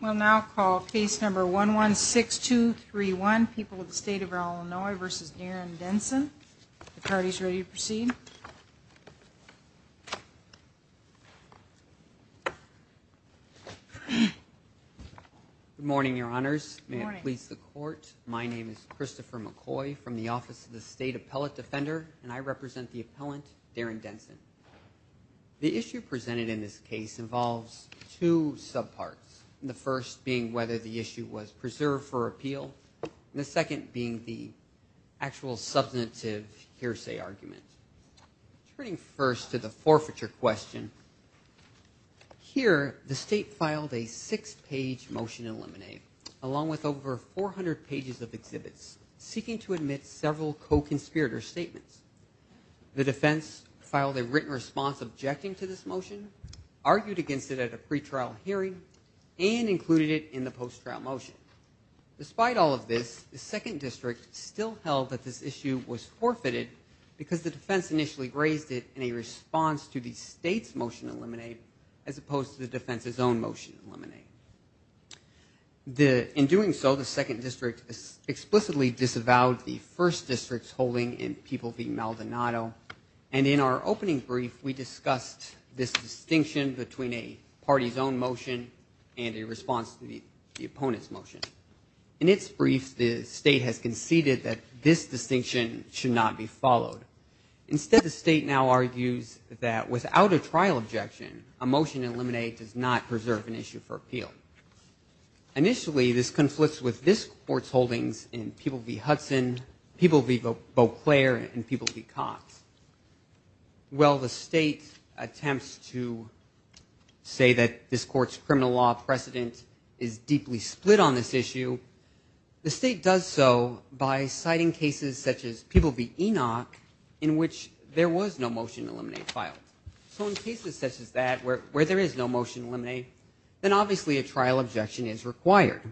We'll now call case number one one six two three one people of the state of Illinois versus Darren Denson. The party's ready to proceed. Good morning your honors. May it please the court. My name is Christopher McCoy from the Office of the State Appellate Defender and I represent the appellant Darren Denson. The issue presented in this case involves two subparts. The first being whether the issue was preserved for appeal. The second being the actual substantive hearsay argument. Turning first to the forfeiture question. Here the state filed a six-page motion in Lemonade along with over 400 pages of written response objecting to this motion, argued against it at a pretrial hearing, and included it in the post-trial motion. Despite all of this the second district still held that this issue was forfeited because the defense initially raised it in a response to the state's motion in Lemonade as opposed to the defense's own motion in Lemonade. In doing so the second district explicitly disavowed the first district's holding in People v. Maldonado and in our opening brief we discussed this distinction between a party's own motion and a response to the opponent's motion. In its brief the state has conceded that this distinction should not be followed. Instead the state now argues that without a trial objection a motion in Lemonade does not preserve an issue for appeal. Initially this conflicts with this court's holdings in People v. Hudson, People v. Beauclair, and People v. Cox. While the state attempts to say that this court's criminal law precedent is deeply split on this issue, the state does so by citing cases such as People v. Enoch in which there was no motion in Lemonade filed. So in cases such as that where there is no motion in Lemonade then obviously a trial objection is required.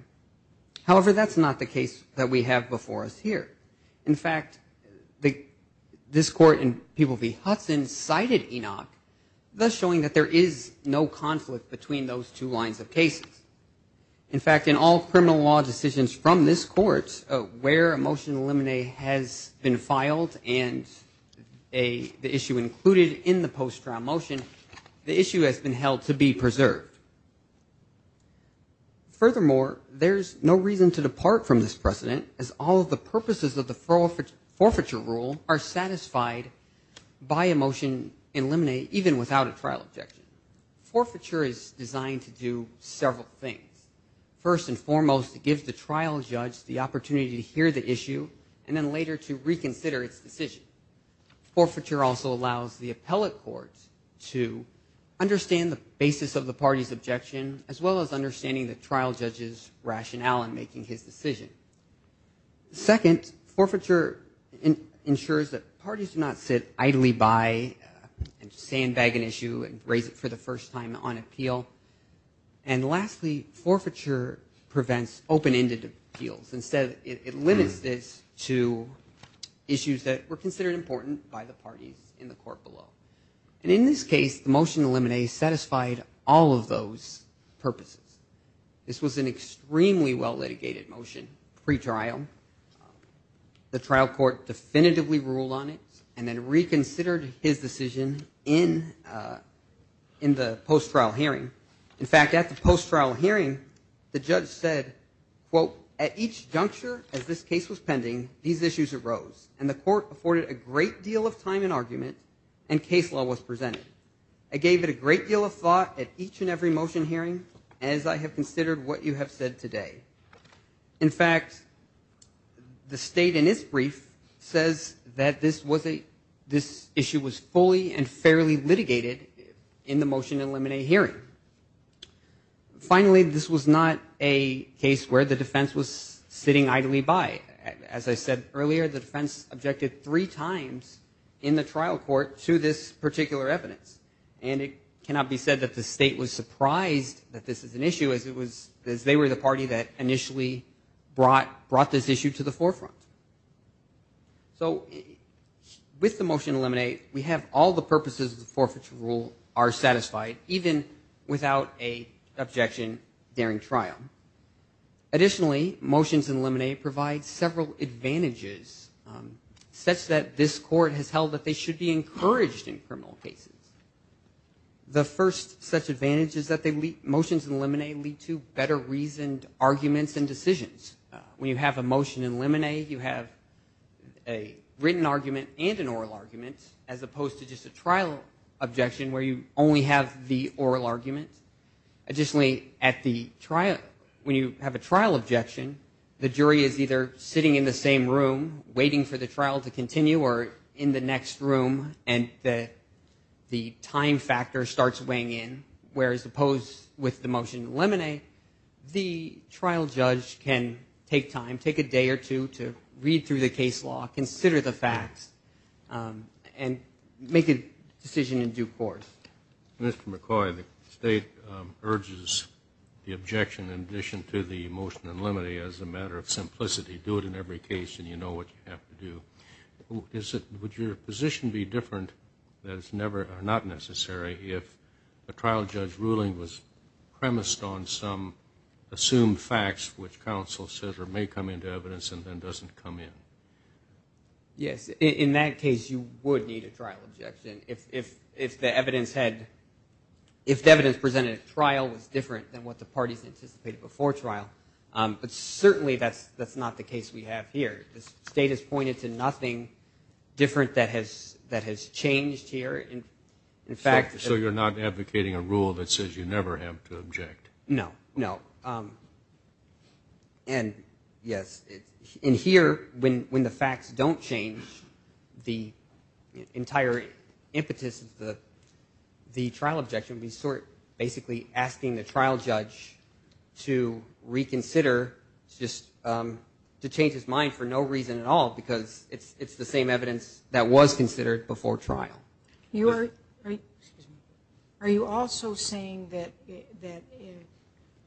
However that's not the case that we have before us here. In fact this court in People v. Hudson cited Enoch thus showing that there is no conflict between those two lines of cases. In fact in all criminal law decisions from this court where a motion in Lemonade has been filed and the issue included in the post-trial motion the issue has been held to be preserved. Furthermore there's no reason to depart from this precedent as all of the purposes of the forfeiture rule are satisfied by a motion in Lemonade even without a trial objection. Forfeiture is designed to do several things. First and foremost it gives the trial judge the opportunity to hear the issue and then later to reconsider its decision. Forfeiture also allows the appellate courts to understand the basis of the party's objection as well as Second forfeiture ensures that parties do not sit idly by and sandbag an issue and raise it for the first time on appeal. And lastly forfeiture prevents open-ended appeals. Instead it limits this to issues that were considered important by the parties in the court below. And in this case the motion in Lemonade satisfied all of those purposes. This was an extremely well litigated motion pre-trial. The trial court definitively ruled on it and then reconsidered his decision in in the post-trial hearing. In fact at the post-trial hearing the judge said quote at each juncture as this case was pending these issues arose and the court afforded a great deal of time and argument and case law was presented. I gave it a great deal of thought at each and every motion hearing as I have considered what you have said today. In fact the state in its brief says that this was a this issue was fully and fairly litigated in the motion in Lemonade hearing. Finally this was not a case where the defense was sitting idly by. As I said earlier the defense objected three times in the trial court to this particular evidence and it was surprised that this is an issue as it was as they were the party that initially brought brought this issue to the forefront. So with the motion in Lemonade we have all the purposes of the forfeiture rule are satisfied even without a objection during trial. Additionally motions in Lemonade provide several advantages such that this court has held that they should be encouraged in criminal cases. The first such advantage is that they leave motions in Lemonade lead to better reasoned arguments and decisions. When you have a motion in Lemonade you have a written argument and an oral argument as opposed to just a trial objection where you only have the oral argument. Additionally at the trial when you have a trial objection the jury is either sitting in the same room waiting for the trial to continue or in the next room and the time factor starts weighing in whereas opposed with the motion in Lemonade the trial judge can take time take a day or two to read through the case law consider the facts and make a decision in due course. Mr. McCoy the state urges the objection in addition to the motion in Lemonade as a matter of simplicity do it in every case and you know what you have to do. Is it would your position be different that it's never not necessary if a trial judge ruling was premised on some assumed facts which counsel says or may come into evidence and then doesn't come in? Yes in that case you would need a trial objection if the evidence had if the evidence presented at trial was different than what the parties anticipated before trial but certainly that's that's not the case we have here the state has pointed to nothing different that has that has changed here in fact. So you're not advocating a rule that says you never have to object? No no and yes in here when when the facts don't change the entire impetus of the trial objection we sort basically asking the trial judge to reconsider just to change his mind for no reason at all because it's it's the same evidence that was considered before trial. You are are you also saying that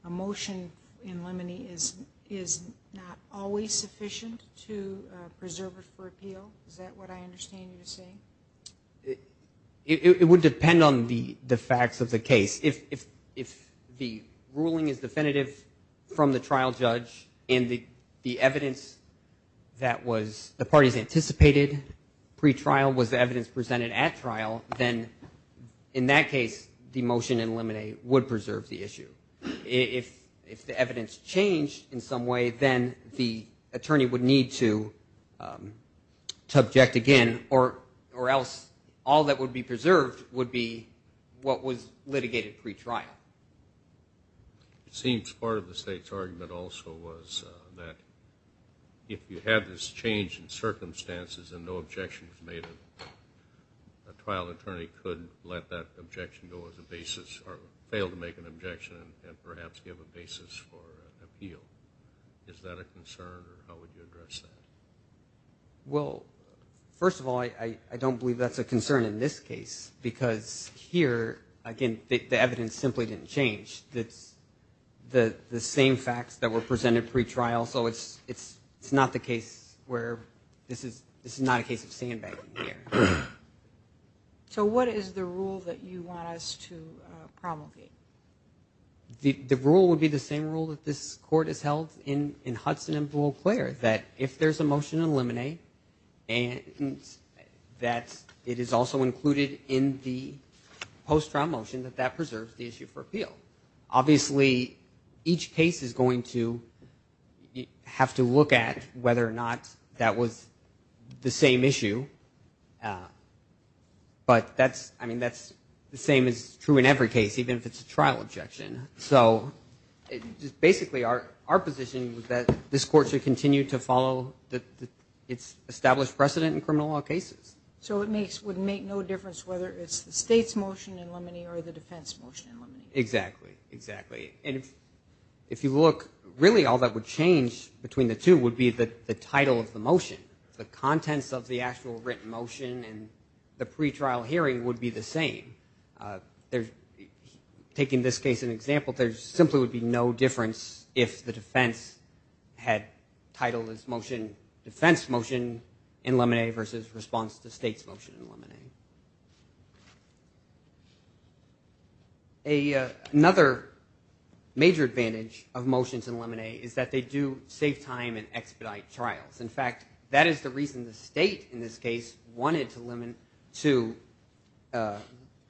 a motion in Lemonade is is not always sufficient to preserve it for appeal? Is that what I the facts of the case if if the ruling is definitive from the trial judge in the the evidence that was the parties anticipated pre-trial was the evidence presented at trial then in that case the motion in Lemonade would preserve the issue. If if the evidence changed in some way then the attorney would need to to object again or or else all that would be preserved would be what was litigated pre-trial. It seems part of the state's argument also was that if you have this change in circumstances and no objections made a trial attorney could let that objection go as a basis or fail to make an objection and perhaps give a Well first of all I I don't believe that's a concern in this case because here again the evidence simply didn't change that's the the same facts that were presented pre-trial so it's it's it's not the case where this is this is not a case of sandbagging here. So what is the rule that you want us to promulgate? The rule would be the same rule that this court has held in in if there's a motion in Lemonade and that it is also included in the post-trial motion that that preserves the issue for appeal. Obviously each case is going to have to look at whether or not that was the same issue but that's I mean that's the same as true in every case even if it's a trial objection. So just basically our our position was that this court should continue to follow that it's established precedent in criminal law cases. So it makes would make no difference whether it's the state's motion in Lemonade or the defense motion in Lemonade? Exactly exactly and if you look really all that would change between the two would be that the title of the motion the contents of the actual written motion and the pre-trial hearing would be the same. There's taking this case an no difference if the defense had title is motion defense motion in Lemonade versus response to state's motion in Lemonade. Another major advantage of motions in Lemonade is that they do save time and expedite trials. In fact that is the reason the state in this case wanted to limit to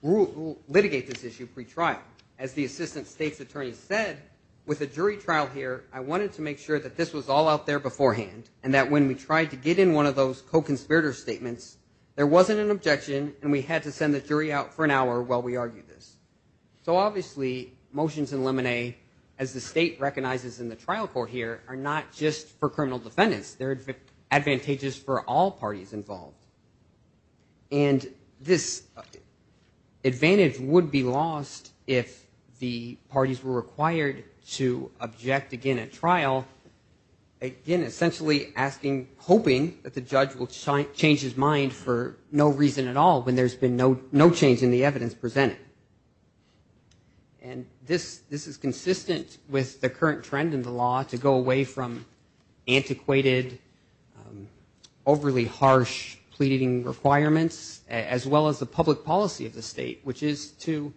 rule litigate this issue pre-trial. As the assistant state's attorney said with a jury trial here I wanted to make sure that this was all out there beforehand and that when we tried to get in one of those co-conspirator statements there wasn't an objection and we had to send the jury out for an hour while we argued this. So obviously motions in Lemonade as the state recognizes in the trial court here are not just for criminal defendants they're advantageous for all parties involved. And this advantage would be lost if the parties were required to object again at trial again essentially asking hoping that the judge will change his mind for no reason at all when there's been no no change in the evidence presented. And this this is consistent with the current trend in the to go away from antiquated overly harsh pleading requirements as well as the public policy of the state which is to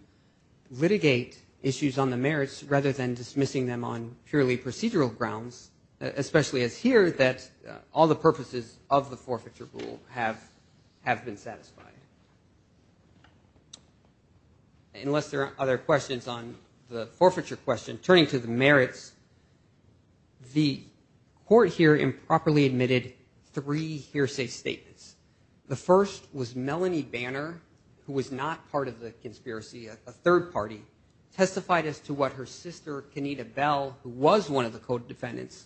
litigate issues on the merits rather than dismissing them on purely procedural grounds especially as here that all the purposes of the forfeiture rule have have been satisfied. Unless there are other questions on the forfeiture question turning to the merits the court here improperly admitted three hearsay statements. The first was Melanie Banner who was not part of the conspiracy a third party testified as to what her sister Kenita Bell who was one of the code defendants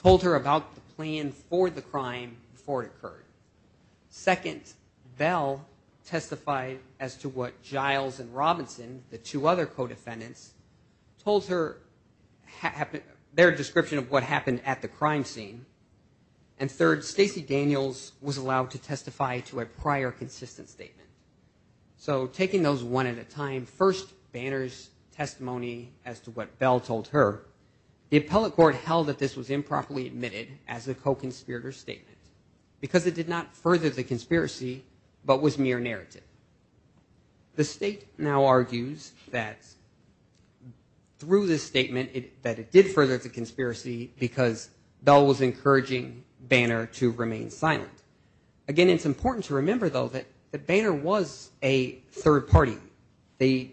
told her about the plan for the crime before it occurred. Second Bell testified as to what Giles and Robinson the two other co-defendants told her their description of what happened at the crime scene. And third Stacey Daniels was allowed to testify to a prior consistent statement. So taking those one at a time first Banner's testimony as to what Bell told her the appellate court held that this was improperly admitted as a co-conspirator statement because it did not further the conspiracy but was mere narrative. The state now argues that through this statement it that it did further the conspiracy because Bell was encouraging Banner to remain silent. Again it's important to remember though that that Banner was a third party. The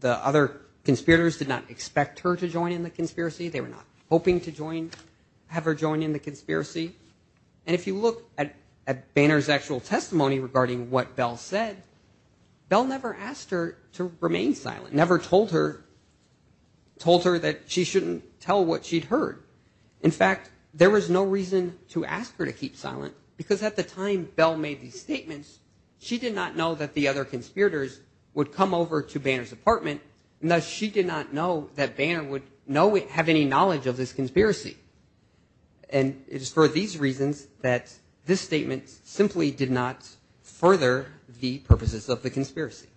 the other conspirators did not expect her to join in the conspiracy they were not hoping to join have her join in the Banner's actual testimony regarding what Bell said. Bell never asked her to remain silent never told her told her that she shouldn't tell what she'd heard. In fact there was no reason to ask her to keep silent because at the time Bell made these statements she did not know that the other conspirators would come over to Banner's apartment and thus she did not know that Banner would know it have any knowledge of this conspiracy. And it is for these reasons that this statement simply did not further the purposes of the conspiracy.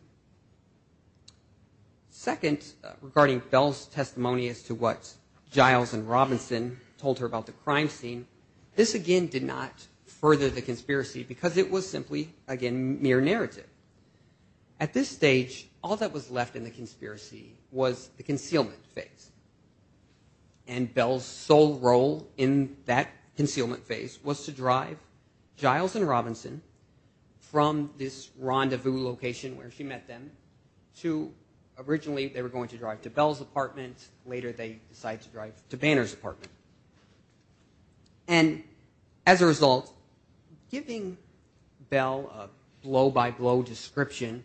Second regarding Bell's testimony as to what Giles and Robinson told her about the crime scene this again did not further the conspiracy because it was simply again mere narrative. At this stage all that was left in the conspiracy was the concealment phase and Bell's sole role in that concealment phase was to drive Giles and Robinson from this rendezvous location where she met them to originally they were going to drive to Bell's apartment later they decided to drive to Banner's apartment. And as a result giving Bell a blow-by-blow description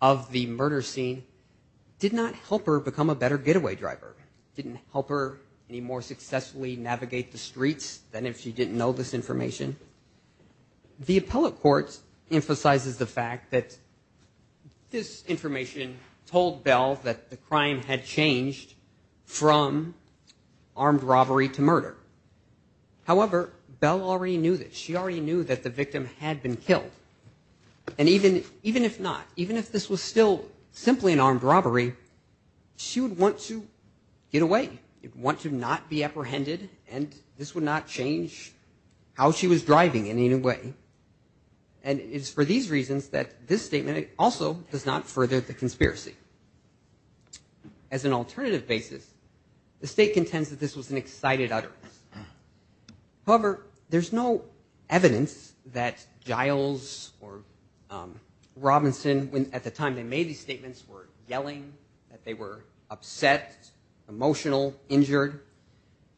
of the murder scene did not help her become a better getaway driver. Didn't help her any more successfully navigate the streets than if she didn't know this information. The appellate courts emphasizes the fact that this information told Bell that the crime had changed from armed robbery to murder. However, Bell already knew that she already knew that the victim had been killed and even even if not even if this was still simply an armed robbery she would want to get away you'd want to not be apprehended and this would not change how she was driving in any way and it's for these reasons that this statement also does not further the conspiracy. As an alternative basis the state contends that this was an excited utterance. However, there's no evidence that Giles or Robinson when at the time they made these statements were yelling that they were upset, emotional, injured.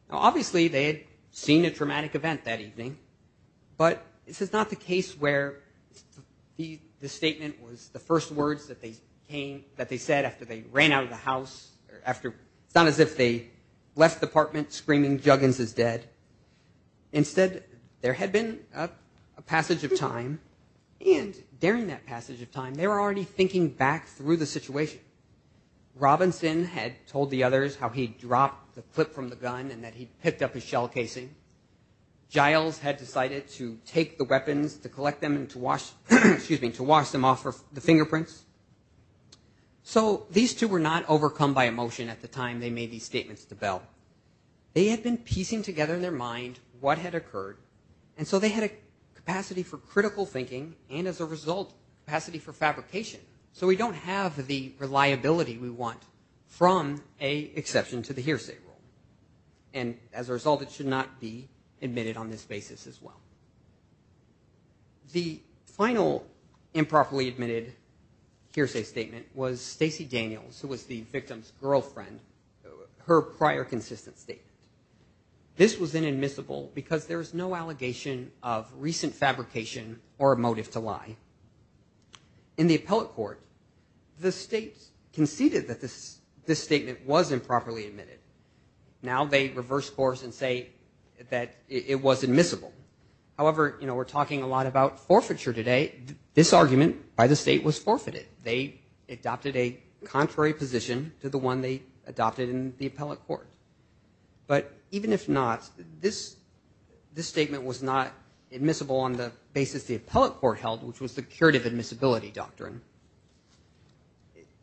Obviously they had seen a traumatic event that evening but this is not the case where the the statement was the first words that they came that they said after they ran out of the house or after it's not as if they left the apartment screaming Juggins is dead. Instead there had been a passage of time and during that passage of time they were already thinking back through the situation. Robinson had told the others how he dropped the clip from the gun and that he picked up his shell casing. Giles had decided to take the weapons to collect them and to wash excuse me to wash them off for the fingerprints. So these two were not overcome by emotion at the time they made these statements to Bell. They had been piecing together in their mind what had occurred and so they had a capacity for critical thinking and as a result capacity for fabrication. So we don't have the reliability we want from a exception to the hearsay rule and as a result it should not be admitted on this basis as well. The final improperly admitted hearsay statement was Stacey Daniels who was the victim's girlfriend her prior consistent statement. This was inadmissible because there is no allegation of recent fabrication or a in the appellate court the state conceded that this this statement was improperly admitted. Now they reverse course and say that it was admissible. However you know we're talking a lot about forfeiture today. This argument by the state was forfeited. They adopted a contrary position to the one they adopted in the appellate court. But even if not this this statement was not admissible on the basis the appellate court held which was the curative admissibility doctrine.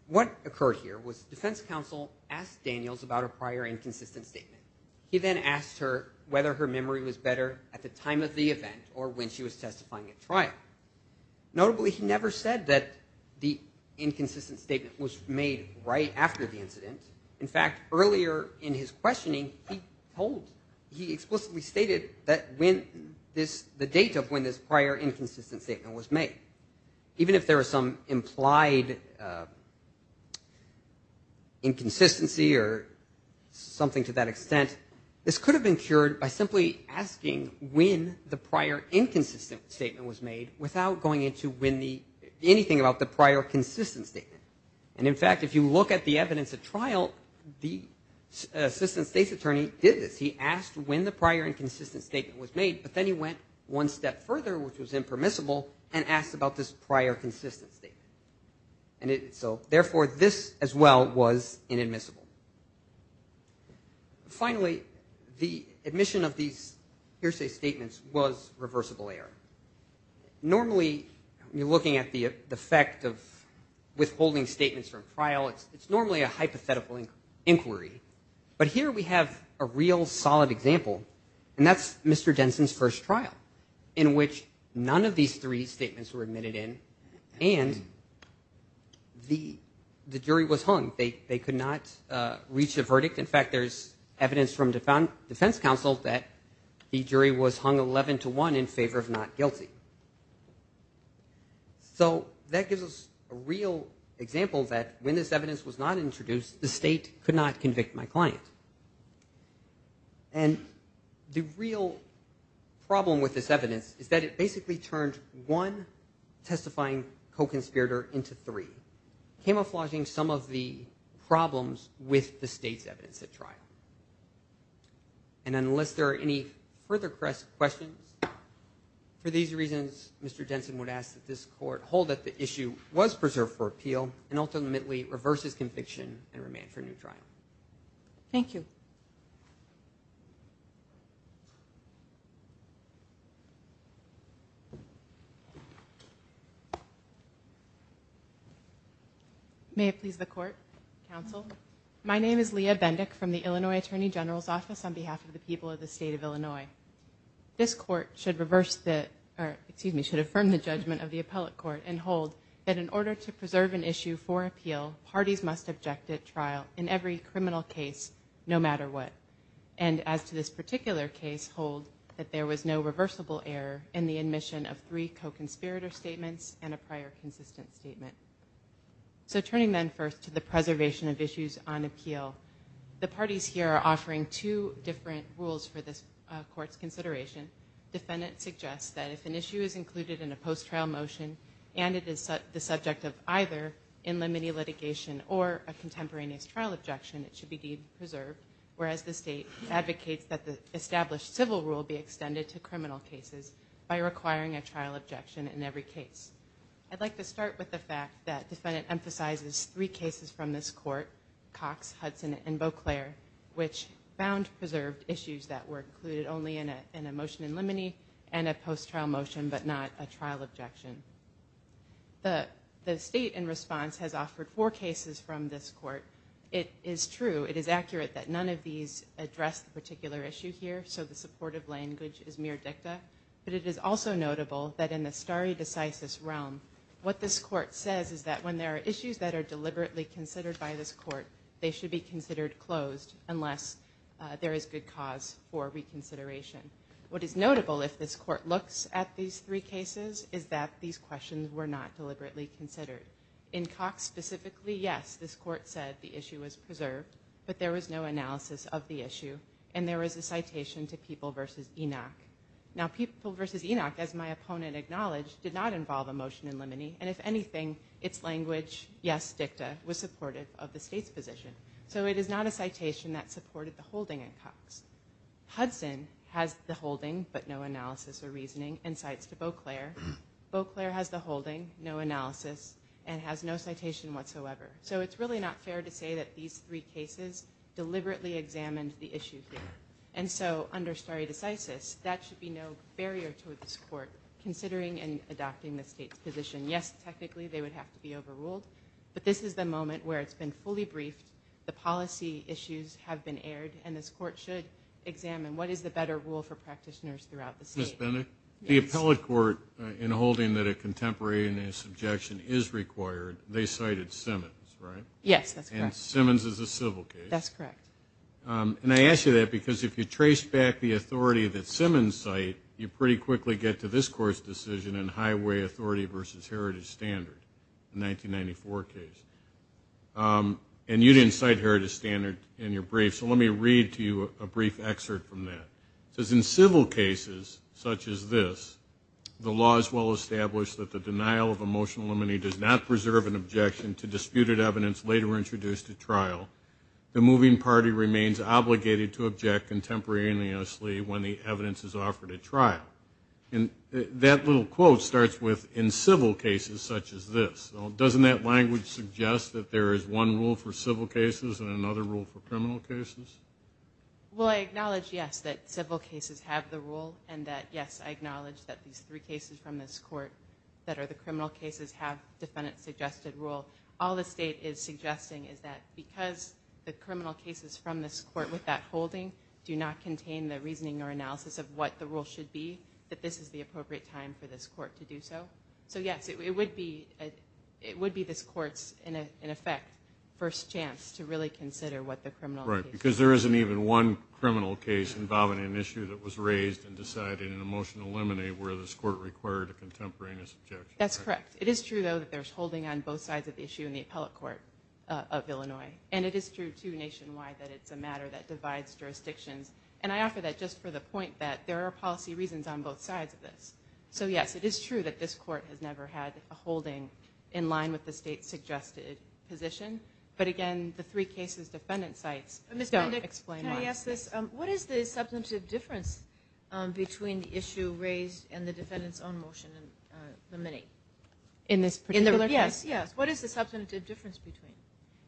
What occurred here was defense counsel asked Daniels about a prior inconsistent statement. He then asked her whether her memory was better at the time of the event or when she was testifying at trial. Notably he never said that the inconsistent statement was made right after the incident. In fact earlier in his questioning he told he explicitly stated that when this the date of when this prior inconsistent statement was made. Even if there was some implied inconsistency or something to that extent this could have been cured by simply asking when the prior inconsistent statement was made without going into when the anything about the prior consistent statement. And in fact if you look at the evidence at trial the prior inconsistent statement was made but then he went one step further which was impermissible and asked about this prior consistent statement. And it so therefore this as well was inadmissible. Finally the admission of these hearsay statements was reversible error. Normally you're looking at the effect of withholding statements from trial it's normally a hypothetical inquiry. But here we have a real solid example and that's Mr. Denson's first trial in which none of these three statements were admitted in and the the jury was hung. They they could not reach a verdict. In fact there's evidence from defense counsel that the jury was hung 11 to 1 in favor of not guilty. So that gives us a real example that when this evidence was not introduced the state could not convict my client. And the real problem with this evidence is that it basically turned one testifying co-conspirator into three. Camouflaging some of the problems with the state's evidence at trial. And unless there are any further questions for these reasons Mr. Denson would ask that this court hold that the issue was preserved for appeal and ultimately reverses conviction and remand for new trial. Thank you. May it please the court counsel. My name is Leah Bendick from the Illinois Attorney General's Office on behalf of the people of the state of Illinois. This court should reverse that or excuse me should affirm the judgment of the appellate court and hold that in order to preserve an issue for appeal parties must object at trial in every criminal case no matter what. And as to this particular case hold that there was no reversible error in the admission of three co-conspirator statements and a prior consistent statement. So turning then first to the preservation of issues on appeal. The parties here are offering two different rules for this court's consideration. Defendant suggests that if an issue is included in a post trial motion and it is the subject of either in limine litigation or a contemporaneous trial objection it should be deemed preserved. Whereas the state advocates that the established civil rule be extended to criminal cases by requiring a trial objection in every case. I'd like to start with the fact that defendant emphasizes three cases from this court Cox, Hudson, and Beauclair which found preserved issues that were included only in a motion in limine and a post trial motion but not a trial objection. The state in response has offered four cases from this court. It is true it is accurate that none of these address the particular issue here so the supportive language is mere dicta but it is also notable that in the stare decisis realm what this court says is that when there are issues that are deliberately considered by this court they should be considered closed unless there is good cause for reconsideration. What is notable if this court looks at these three cases is that these questions were not deliberately considered. In Cox specifically yes this court said the issue was preserved but there was no analysis of the issue and there is a citation to People versus Enoch. Now People versus Enoch as my opponent acknowledged did not involve a motion in limine and if anything its language yes dicta was supportive of the state's position. So it is not a citation that supported the holding in Cox. Hudson has the holding but no analysis or reasoning and cites to Beauclair. Beauclair has the holding no analysis and has no citation whatsoever. So it's really not fair to say that these three cases deliberately examined the issue here and so under stare decisis that should be no barrier to this court considering and adopting the state's position. Yes technically they would have to be overruled but this is the moment where it's been fully briefed the policy issues have been aired and this court should examine what is the better rule for practitioners throughout the state. Ms. Bennett, the appellate court in holding that a contemporary and a subjection is required they cited Simmons right? Yes that's correct. Simmons is a civil case. That's correct. And I ask you that because if you trace back the authority that Simmons cite you pretty quickly get to this court's decision in Highway Authority versus Heritage Standard in 1994 case and you didn't cite Heritage Standard in your brief so let me read to you a brief excerpt from that. It says in civil cases such as this the law is well established that the denial of emotional limine does not preserve an objection to disputed evidence later introduced at trial. The moving party remains obligated to object contemporaneously when the evidence is offered at trial. And that little quote starts with in civil cases such as this. Doesn't that language suggest that there is one rule for civil cases and another rule for criminal cases? Well I acknowledge yes that civil cases have the rule and that yes I acknowledge that these three cases from this court that are the criminal cases have defendant suggested rule. All the state is suggesting is that because the criminal cases from this court with that holding do not contain the reasoning or analysis of what the rule should be that this is the appropriate time for this court to do so. So yes it would be it would be this court's in effect first chance to really consider what the criminal. Right because there isn't even one criminal case involving an issue that was raised and decided an emotional limine where this court required a contemporaneous objection. That's correct. It is true though that there's holding on both sides of the issue in the appellate court of Illinois and it is true to nationwide that it's a matter that divides jurisdictions and I offer that just for the point that there are policy reasons on both sides of this. So yes it is true that this court has never had a holding in line with the state's suggested position but again the three cases defendant sites don't explain. Can I ask this what is the substantive difference between the issue raised and the defendants own motion in the mini? In this particular case? Yes yes what is the substantive difference between?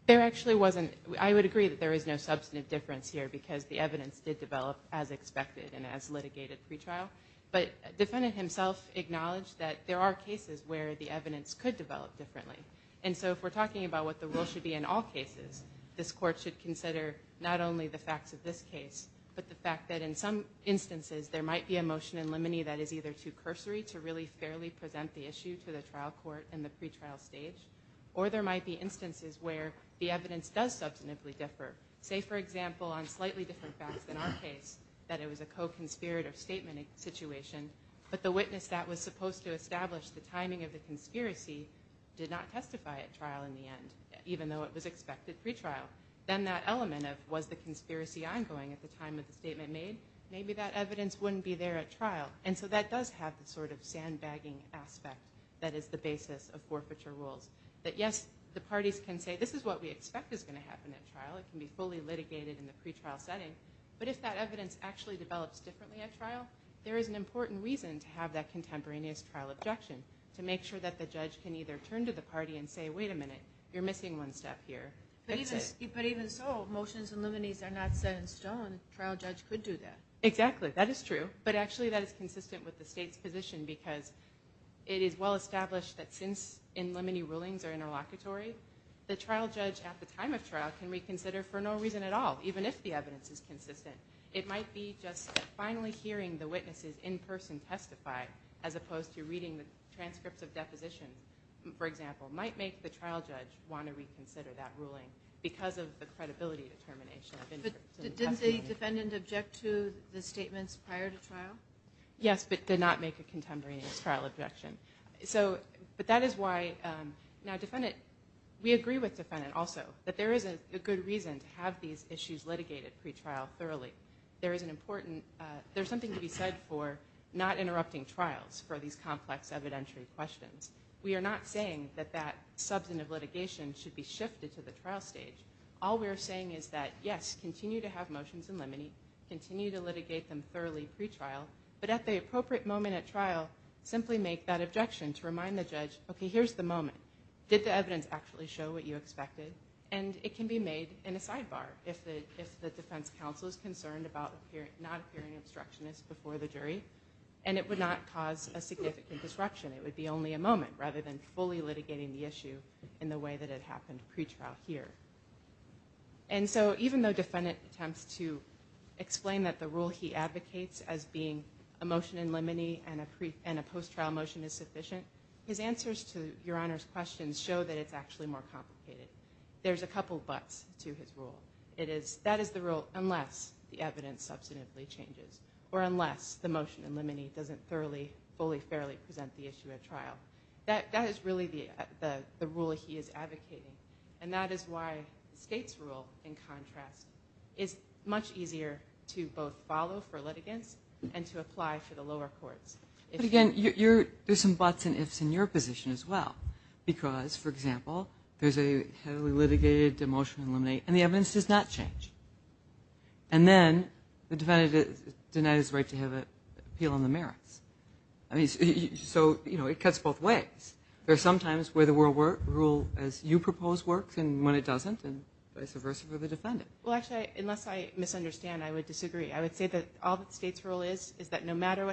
There actually wasn't I would agree that there is no substantive difference here because the evidence did develop as expected and as litigated pretrial but defendant himself acknowledged that there are cases where the evidence could develop differently and so if we're talking about what the rule should be in all cases this court should consider not only the facts of this case but the fact that in some instances there might be a motion in limine that is either too cursory to really fairly present the issue to the trial court in the pretrial stage or there might be instances where the evidence does differ say for example on slightly different facts in our case that it was a co-conspirator statement situation but the witness that was supposed to establish the timing of the conspiracy did not testify at trial in the end even though it was expected pretrial then that element of was the conspiracy ongoing at the time of the statement made maybe that evidence wouldn't be there at trial and so that does have the sort of sandbagging aspect that is the basis of forfeiture rules that yes the parties can say this is what we expect is going to happen at trial it can be fully litigated in the pretrial setting but if that evidence actually develops differently at trial there is an important reason to have that contemporaneous trial objection to make sure that the judge can either turn to the party and say wait a minute you're missing one step here but even so motions and liminese are not set in stone trial judge could do that exactly that is true but actually that is consistent with the state's position because it is well established that since in limiting rulings are interlocutory the trial judge at the time of trial can reconsider for no reason at all even if the evidence is consistent it might be just finally hearing the witnesses in person testify as opposed to reading the transcripts of deposition for example might make the trial judge want to reconsider that ruling because of the credibility determination the defendant object to the statements prior to trial yes but that is why now defendant we agree with defendant also that there is a good reason to have these issues litigated pretrial thoroughly there is an important there's something to be said for not interrupting trials for these complex evidentiary questions we are not saying that that substantive litigation should be shifted to the trial stage all we're saying is that yes continue to have motions and limiting continue to litigate them thoroughly pretrial but at here's the moment did the evidence actually show what you expected and it can be made in a sidebar if the defense counsel is concerned about here not appearing obstructionist before the jury and it would not cause a significant disruption it would be only a moment rather than fully litigating the issue in the way that it happened pretrial here and so even though defendant attempts to explain that the rule he advocates as being a motion in limine and a post trial motion is sufficient his answers to your honors questions show that it's actually more complicated there's a couple buts to his rule it is that is the rule unless the evidence substantively changes or unless the motion in limine doesn't thoroughly fully fairly present the issue at trial that that is really the the rule he is advocating and that is why states rule in contrast is much easier to both follow for litigants and to apply for lower courts but again you're there's some buts and ifs in your position as well because for example there's a heavily litigated to motion eliminate and the evidence does not change and then the defendant is denied his right to have it appeal on the merits I mean so you know it cuts both ways there's sometimes where the world were rule as you propose works and when it doesn't and vice versa for the defendant well actually unless I misunderstand I would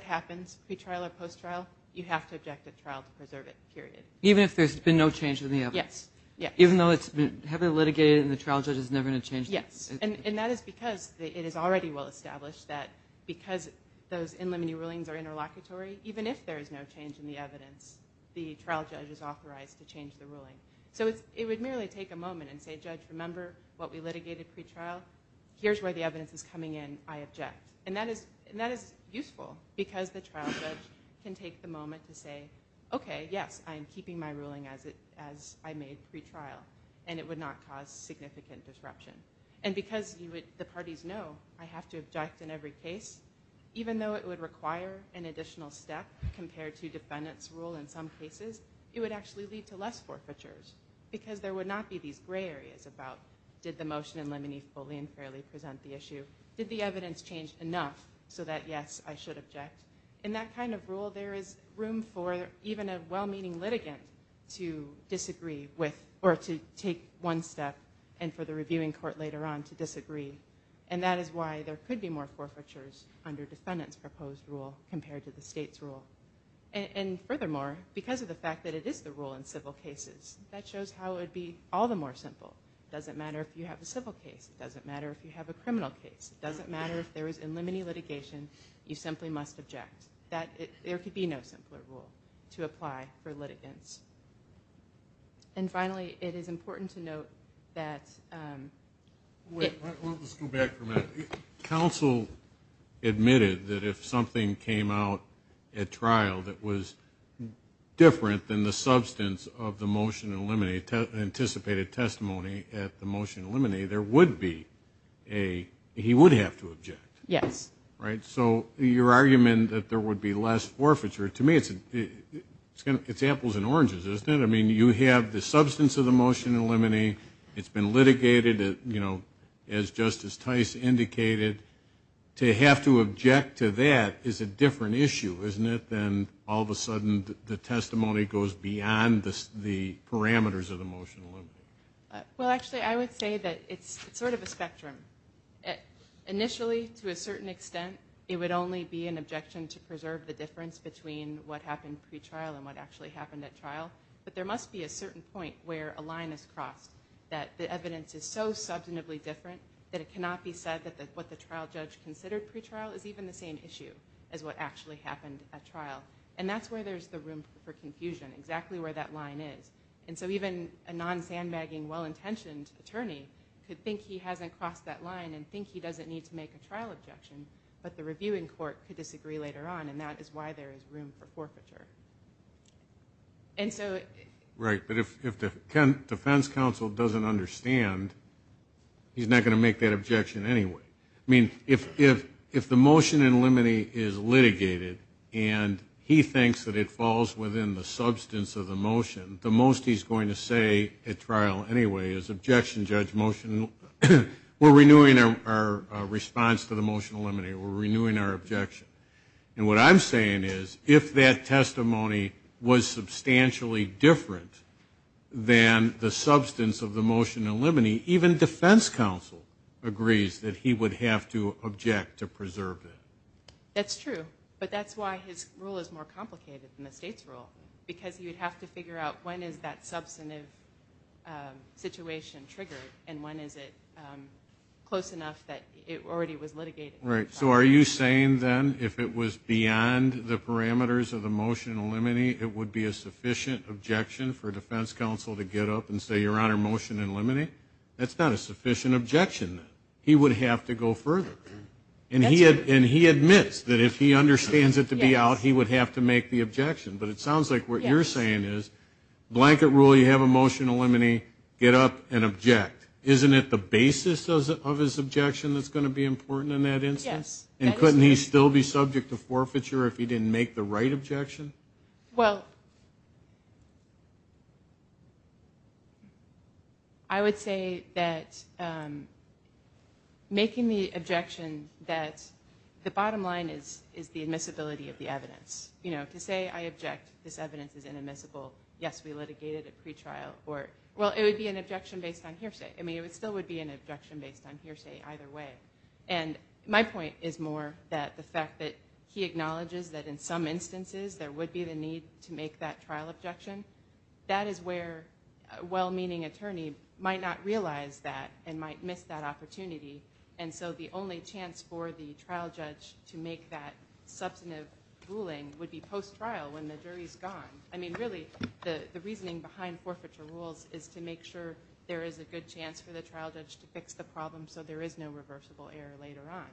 happens we trailer post trial you have to object the trial to preserve it period even if there's been no change in the evidence yeah even though it's been heavily litigated and the trial judge is never gonna change yes and and that is because it is already well established that because those in limine rulings are interlocutory even if there is no change in the evidence the trial judge is authorized to change the ruling so it would merely take a moment and say judge remember what we litigated pretrial here's where the evidence is coming in I object and that is and that is useful because the trial judge can take the moment to say okay yes I'm keeping my ruling as it as I made pretrial and it would not cause significant disruption and because you would the parties know I have to object in every case even though it would require an additional step compared to defendants rule in some cases it would actually lead to less forfeitures because there would not be these gray areas about did the motion limine fully and fairly present the issue did the evidence change enough so that yes I should object in that kind of rule there is room for even a well-meaning litigant to disagree with or to take one step and for the reviewing court later on to disagree and that is why there could be more forfeitures under defendants proposed rule compared to the state's rule and furthermore because of the fact that it is the rule in civil cases that shows how it'd be all the more simple doesn't matter if you have a civil case it doesn't matter if you have a criminal case it doesn't matter if there is in limiting litigation you simply must object that there could be no simpler rule to apply for litigants and finally it is important to note that counsel admitted that if something came out at trial that was different than the substance of the motion eliminate anticipated testimony at the motion eliminate there would be a he would have to object yes right so your argument that there would be less forfeiture to me it's it's gonna it's apples and oranges isn't it I mean you have the substance of the motion eliminate it's been litigated you know as justice Tice indicated to have to object to that is a issue isn't it then all of a sudden the testimony goes beyond the parameters of the motion well actually I would say that it's sort of a spectrum initially to a certain extent it would only be an objection to preserve the difference between what happened pretrial and what actually happened at trial but there must be a certain point where a line is crossed that the evidence is so substantively different that it cannot be said that that what the trial judge considered pretrial is even the same issue as what actually happened at trial and that's where there's the room for confusion exactly where that line is and so even a non sandbagging well-intentioned attorney could think he hasn't crossed that line and think he doesn't need to make a trial objection but the reviewing court could disagree later on and that is why there is room for forfeiture and so right but if the defense counsel doesn't understand he's not going to make that objection anyway I mean if if if the motion in limine is litigated and he thinks that it falls within the substance of the motion the most he's going to say at trial anyway is objection judge motion we're renewing our response to the motion eliminate we're renewing our objection and what I'm saying is if that testimony was substantially different than the agrees that he would have to object to preserve it that's true but that's why his rule is more complicated than the state's rule because you'd have to figure out when is that substantive situation triggered and when is it close enough that it already was litigated right so are you saying then if it was beyond the parameters of the motion eliminate it would be a sufficient objection for defense counsel to get up and say your honor motion and limiting that's not a sufficient objection he would have to go further and he had and he admits that if he understands it to be out he would have to make the objection but it sounds like what you're saying is blanket rule you have a motion eliminate get up and object isn't it the basis of his objection that's going to be important in that instance and couldn't he still be subject to say that making the objection that the bottom line is is the admissibility of the evidence you know to say I object this evidence is inadmissible yes we litigated a pretrial or well it would be an objection based on hearsay I mean it still would be an objection based on hearsay either way and my point is more that the fact that he acknowledges that in some instances there would be the need to make that trial objection that is where well-meaning attorney might not realize that and might miss that opportunity and so the only chance for the trial judge to make that substantive ruling would be post trial when the jury's gone I mean really the the reasoning behind forfeiture rules is to make sure there is a good chance for the trial judge to fix the problem so there is no reversible error later on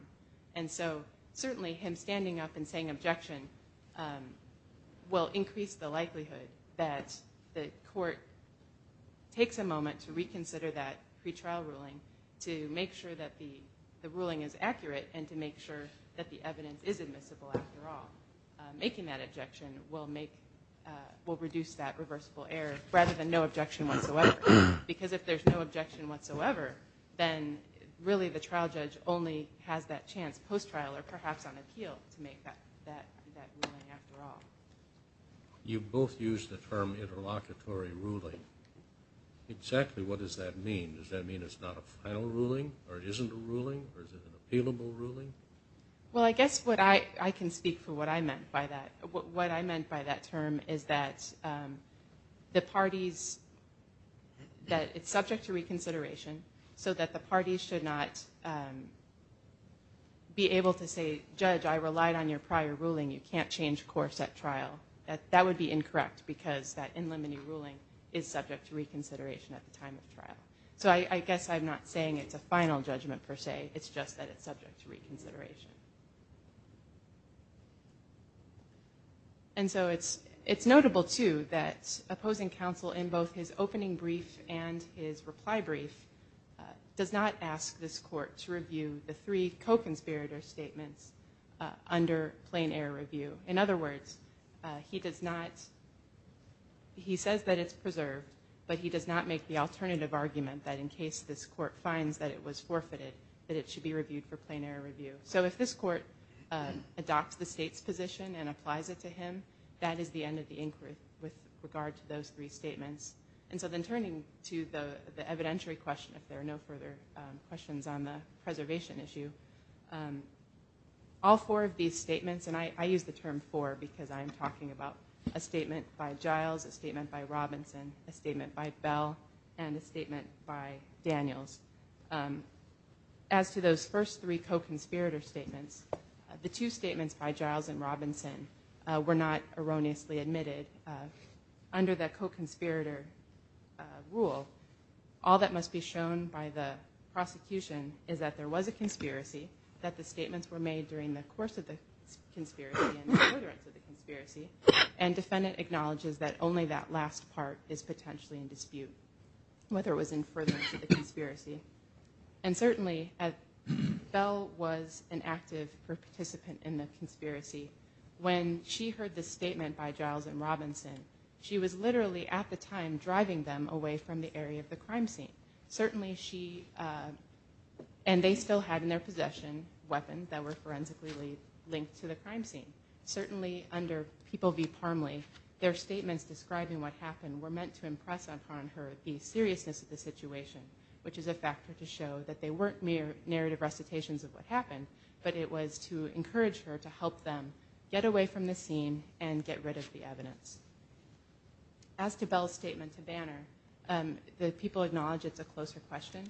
and so certainly him standing up and saying objection will increase the likelihood that the court takes a moment to pretrial ruling to make sure that the the ruling is accurate and to make sure that the evidence is admissible after all making that objection will make will reduce that reversible error rather than no objection whatsoever because if there's no objection whatsoever then really the trial judge only has that chance post trial or perhaps on appeal to make that you both use the term interlocutory ruling exactly what does that mean does that mean it's not a final ruling or it isn't a ruling or is it an appealable ruling well I guess what I I can speak for what I meant by that what I meant by that term is that the parties that it's subject to reconsideration so that the parties should not be able to say judge I relied on your prior ruling you can't change course at trial that would be incorrect because that in limine ruling is subject to reconsideration at the time of trial so I guess I'm not saying it's a final judgment per se it's just that it's subject to reconsideration and so it's it's notable to that opposing counsel in both his opening brief and his reply brief does not ask this court to review the three co-conspirator statements under plain air review in other words he does not he says that it's preserved but he does not make the alternative argument that in case this court finds that it was forfeited that it should be reviewed for plain air review so if this court adopts the state's position and applies it to him that is the end of the inquiry with regard to those three statements and so then turning to the evidentiary question if there are no further questions on the preservation issue all four of these statements and I use the term for because I'm talking about a statement by Giles a statement by Robinson a statement by Bell and a statement by Daniels as to those first three co-conspirator statements the two statements by Giles and Robinson were not erroneously admitted under the co-conspirator rule all that must be shown by the prosecution is that there was a conspiracy that the statements were made during the course of the conspiracy and defendant acknowledges that only that last part is potentially in dispute whether it was in for the conspiracy and certainly at Bell was an active participant in the conspiracy when she heard the statement by Giles and Robinson she was literally at the time driving them away from the area of the crime scene certainly under People v. Parmley their statements describing what happened were meant to impress upon her the seriousness of the situation which is a factor to show that they weren't mere narrative recitations of what happened but it was to encourage her to help them get away from the scene and get rid of the evidence. As to Bell's statement to Banner the people acknowledge it's a closer question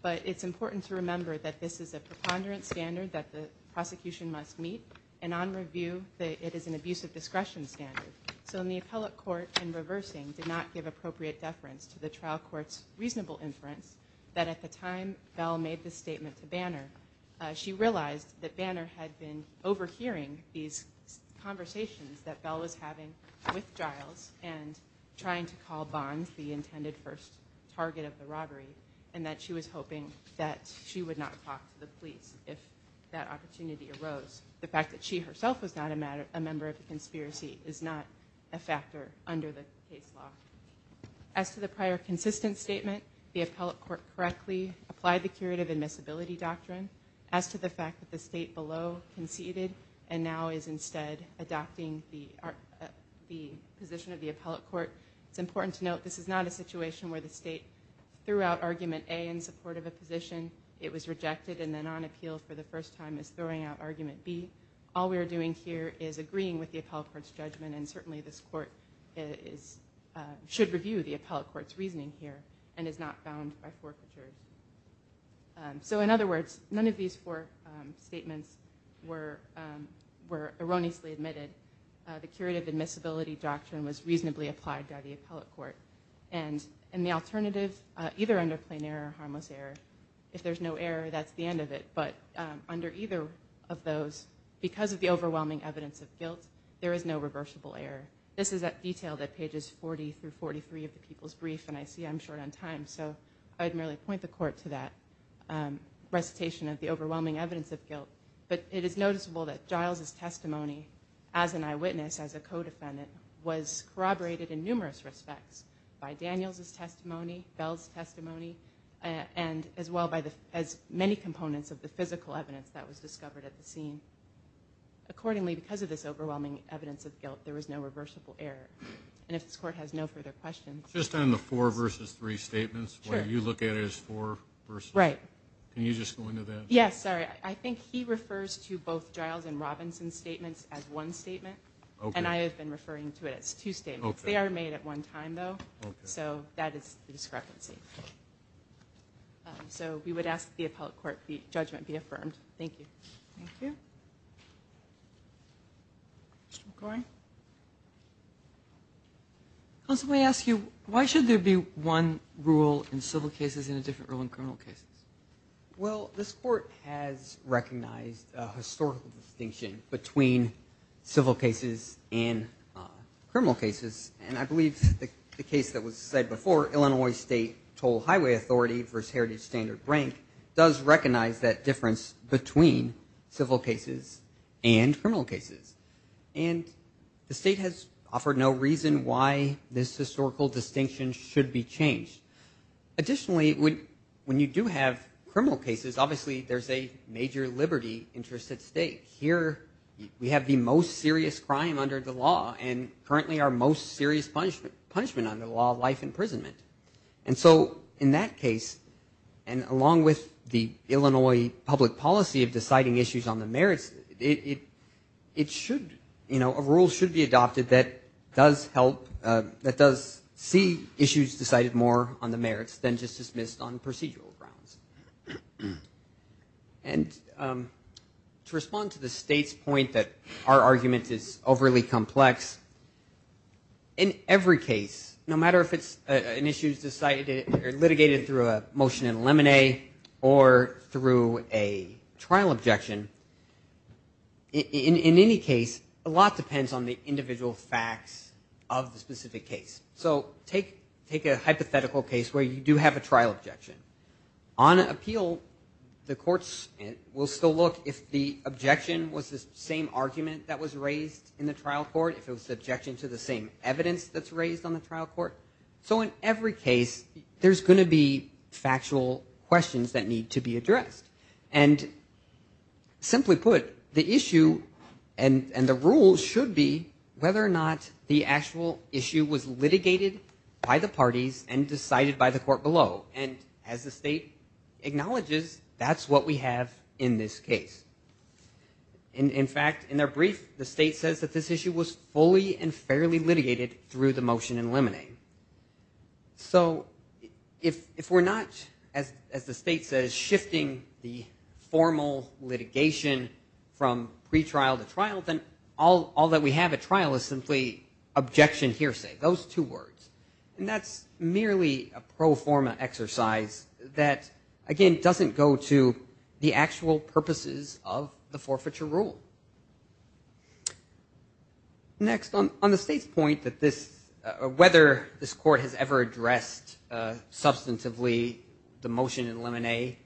but it's important to remember that this is a preponderance standard that the prosecution must meet and on review that it is an abuse of discretion standard so in the appellate court in reversing did not give appropriate deference to the trial courts reasonable inference that at the time Bell made the statement to Banner she realized that Banner had been overhearing these conversations that Bell was having with Giles and trying to the robbery and that she was hoping that she would not talk to the police if that opportunity arose the fact that she herself was not a matter a member of the conspiracy is not a factor under the case law. As to the prior consistent statement the appellate court correctly applied the curative admissibility doctrine as to the fact that the state below conceded and now is instead adopting the position of the appellate court it's important to note this is not a situation where the state threw out argument A in support of a position it was rejected and then on appeal for the first time is throwing out argument B all we're doing here is agreeing with the appellate court's judgment and certainly this court should review the appellate court's reasoning here and is not bound by forfeiture. So in other words none of these four statements were were erroneously admitted the curative admissibility doctrine was reasonably applied by the appellate court and in the alternative either under plain error or harmless error if there's no error that's the end of it but under either of those because of the overwhelming evidence of guilt there is no reversible error this is that detail that pages 40 through 43 of the people's brief and I see I'm short on time so I'd merely point the court to that recitation of the overwhelming evidence of guilt but it is noticeable that Giles's in numerous respects by Daniels's testimony Bell's testimony and as well by the as many components of the physical evidence that was discovered at the scene accordingly because of this overwhelming evidence of guilt there was no reversible error and if this court has no further questions just on the four versus three statements where you look at it as four versus right can you just go into that yes sorry I think he refers to both Giles and Robinson statements as one statement and I have been referring to it as two statements they are made at one time though so that is the discrepancy so we would ask the appellate court the judgment be affirmed thank you thank you going let me ask you why should there be one rule in civil cases in a different role in criminal cases well this court has recognized a historical distinction between civil cases and criminal cases and I believe the case that was said before Illinois State Toll Highway Authority versus Heritage Standard rank does recognize that difference between civil cases and criminal cases and the state has offered no reason why this historical distinction should be changed additionally would when you do have criminal cases obviously there's a major liberty interest at stake here we have the most serious crime under the law and currently our most serious punishment punishment under the law life imprisonment and so in that case and along with the Illinois public policy of deciding issues on the merits it it should you know a rule should be adopted that does help that does see issues decided more on the merits than just dismissed on procedural grounds and to respond to the state's point that our argument is overly complex in every case no matter if it's an issues decided litigated through a motion in lemonade or through a trial objection in any case a lot depends on the individual facts of the specific case so take take a hypothetical case where you do have a trial objection on appeal the courts will still look if the objection was the same argument that was raised in the trial court if it was subjection to the same evidence that's raised on the trial court so in every case there's going to be factual questions that need to be addressed and simply put the issue and and the rules should be whether or not the actual issue was litigated by the parties and decided by the court below and as the state acknowledges that's what we have in this case and in fact in their brief the state says that this issue was fully and fairly litigated through the motion in lemonade so if if we're not as as the state says shifting the formal litigation from pretrial to trial then all all that we have a trial is simply objection hearsay those two words and that's merely a pro forma exercise that again doesn't go to the actual purposes of the forfeiture rule next on on the state's point that this whether this court has ever addressed substantively the motion in lemonade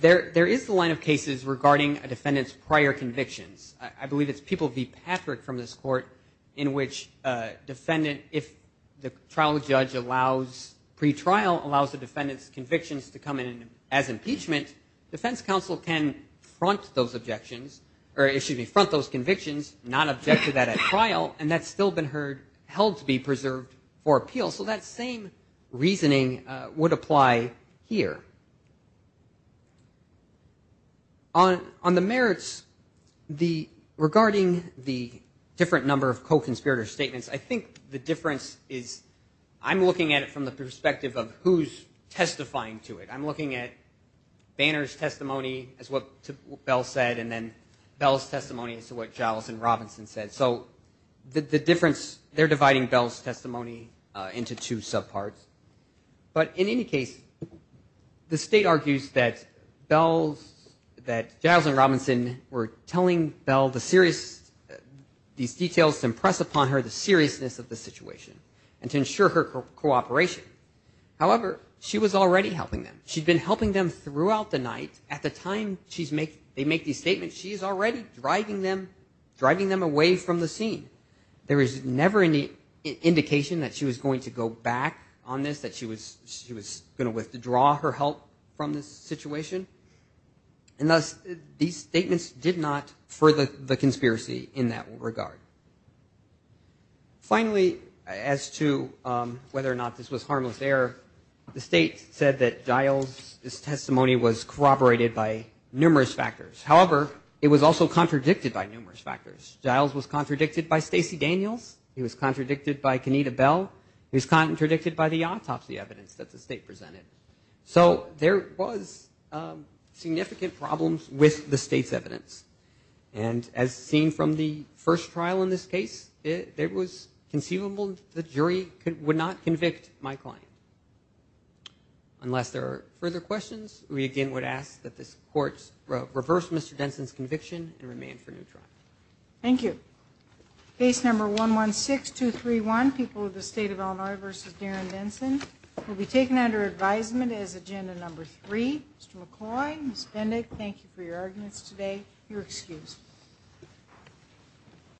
there there is the line of cases regarding a defendant's prior convictions I believe it's people be Patrick from this court in which defendant if the trial judge allows pretrial allows the defendants convictions to come in as impeachment defense counsel can front those objections or issues me front those convictions not object to that at trial and that's still been heard held to be on the merits the regarding the different number of co-conspirator statements I think the difference is I'm looking at it from the perspective of who's testifying to it I'm looking at Banner's testimony as what Bell said and then Bell's testimony as to what Giles and Robinson said so the difference they're dividing Bell's testimony into two subparts but in any case the state argues that Bell's that Giles and Robinson were telling Bell the serious these details to impress upon her the seriousness of the situation and to ensure her cooperation however she was already helping them she'd been helping them throughout the night at the time she's make they make these statements she is already driving them driving them away from the scene there is never any indication that she was going to go back on this that she was she was gonna with to draw her help from this situation and thus these statements did not further the conspiracy in that regard finally as to whether or not this was harmless error the state said that Giles this testimony was corroborated by numerous factors however it was also contradicted by numerous factors Giles was contradicted by Stacey Daniels he was contradicted by Kenita Bell who's not interdicted by the autopsy evidence that the state presented so there was significant problems with the state's evidence and as seen from the first trial in this case it was conceivable the jury could would not convict my client unless there are further questions we again would ask that this courts reverse mr. Denson's conviction and remain for neutral thank you base number one one six two three one people of the state of Illinois versus Darren Benson will be taken under advisement as agenda number three McCoy spending thank you for your arguments today you're excused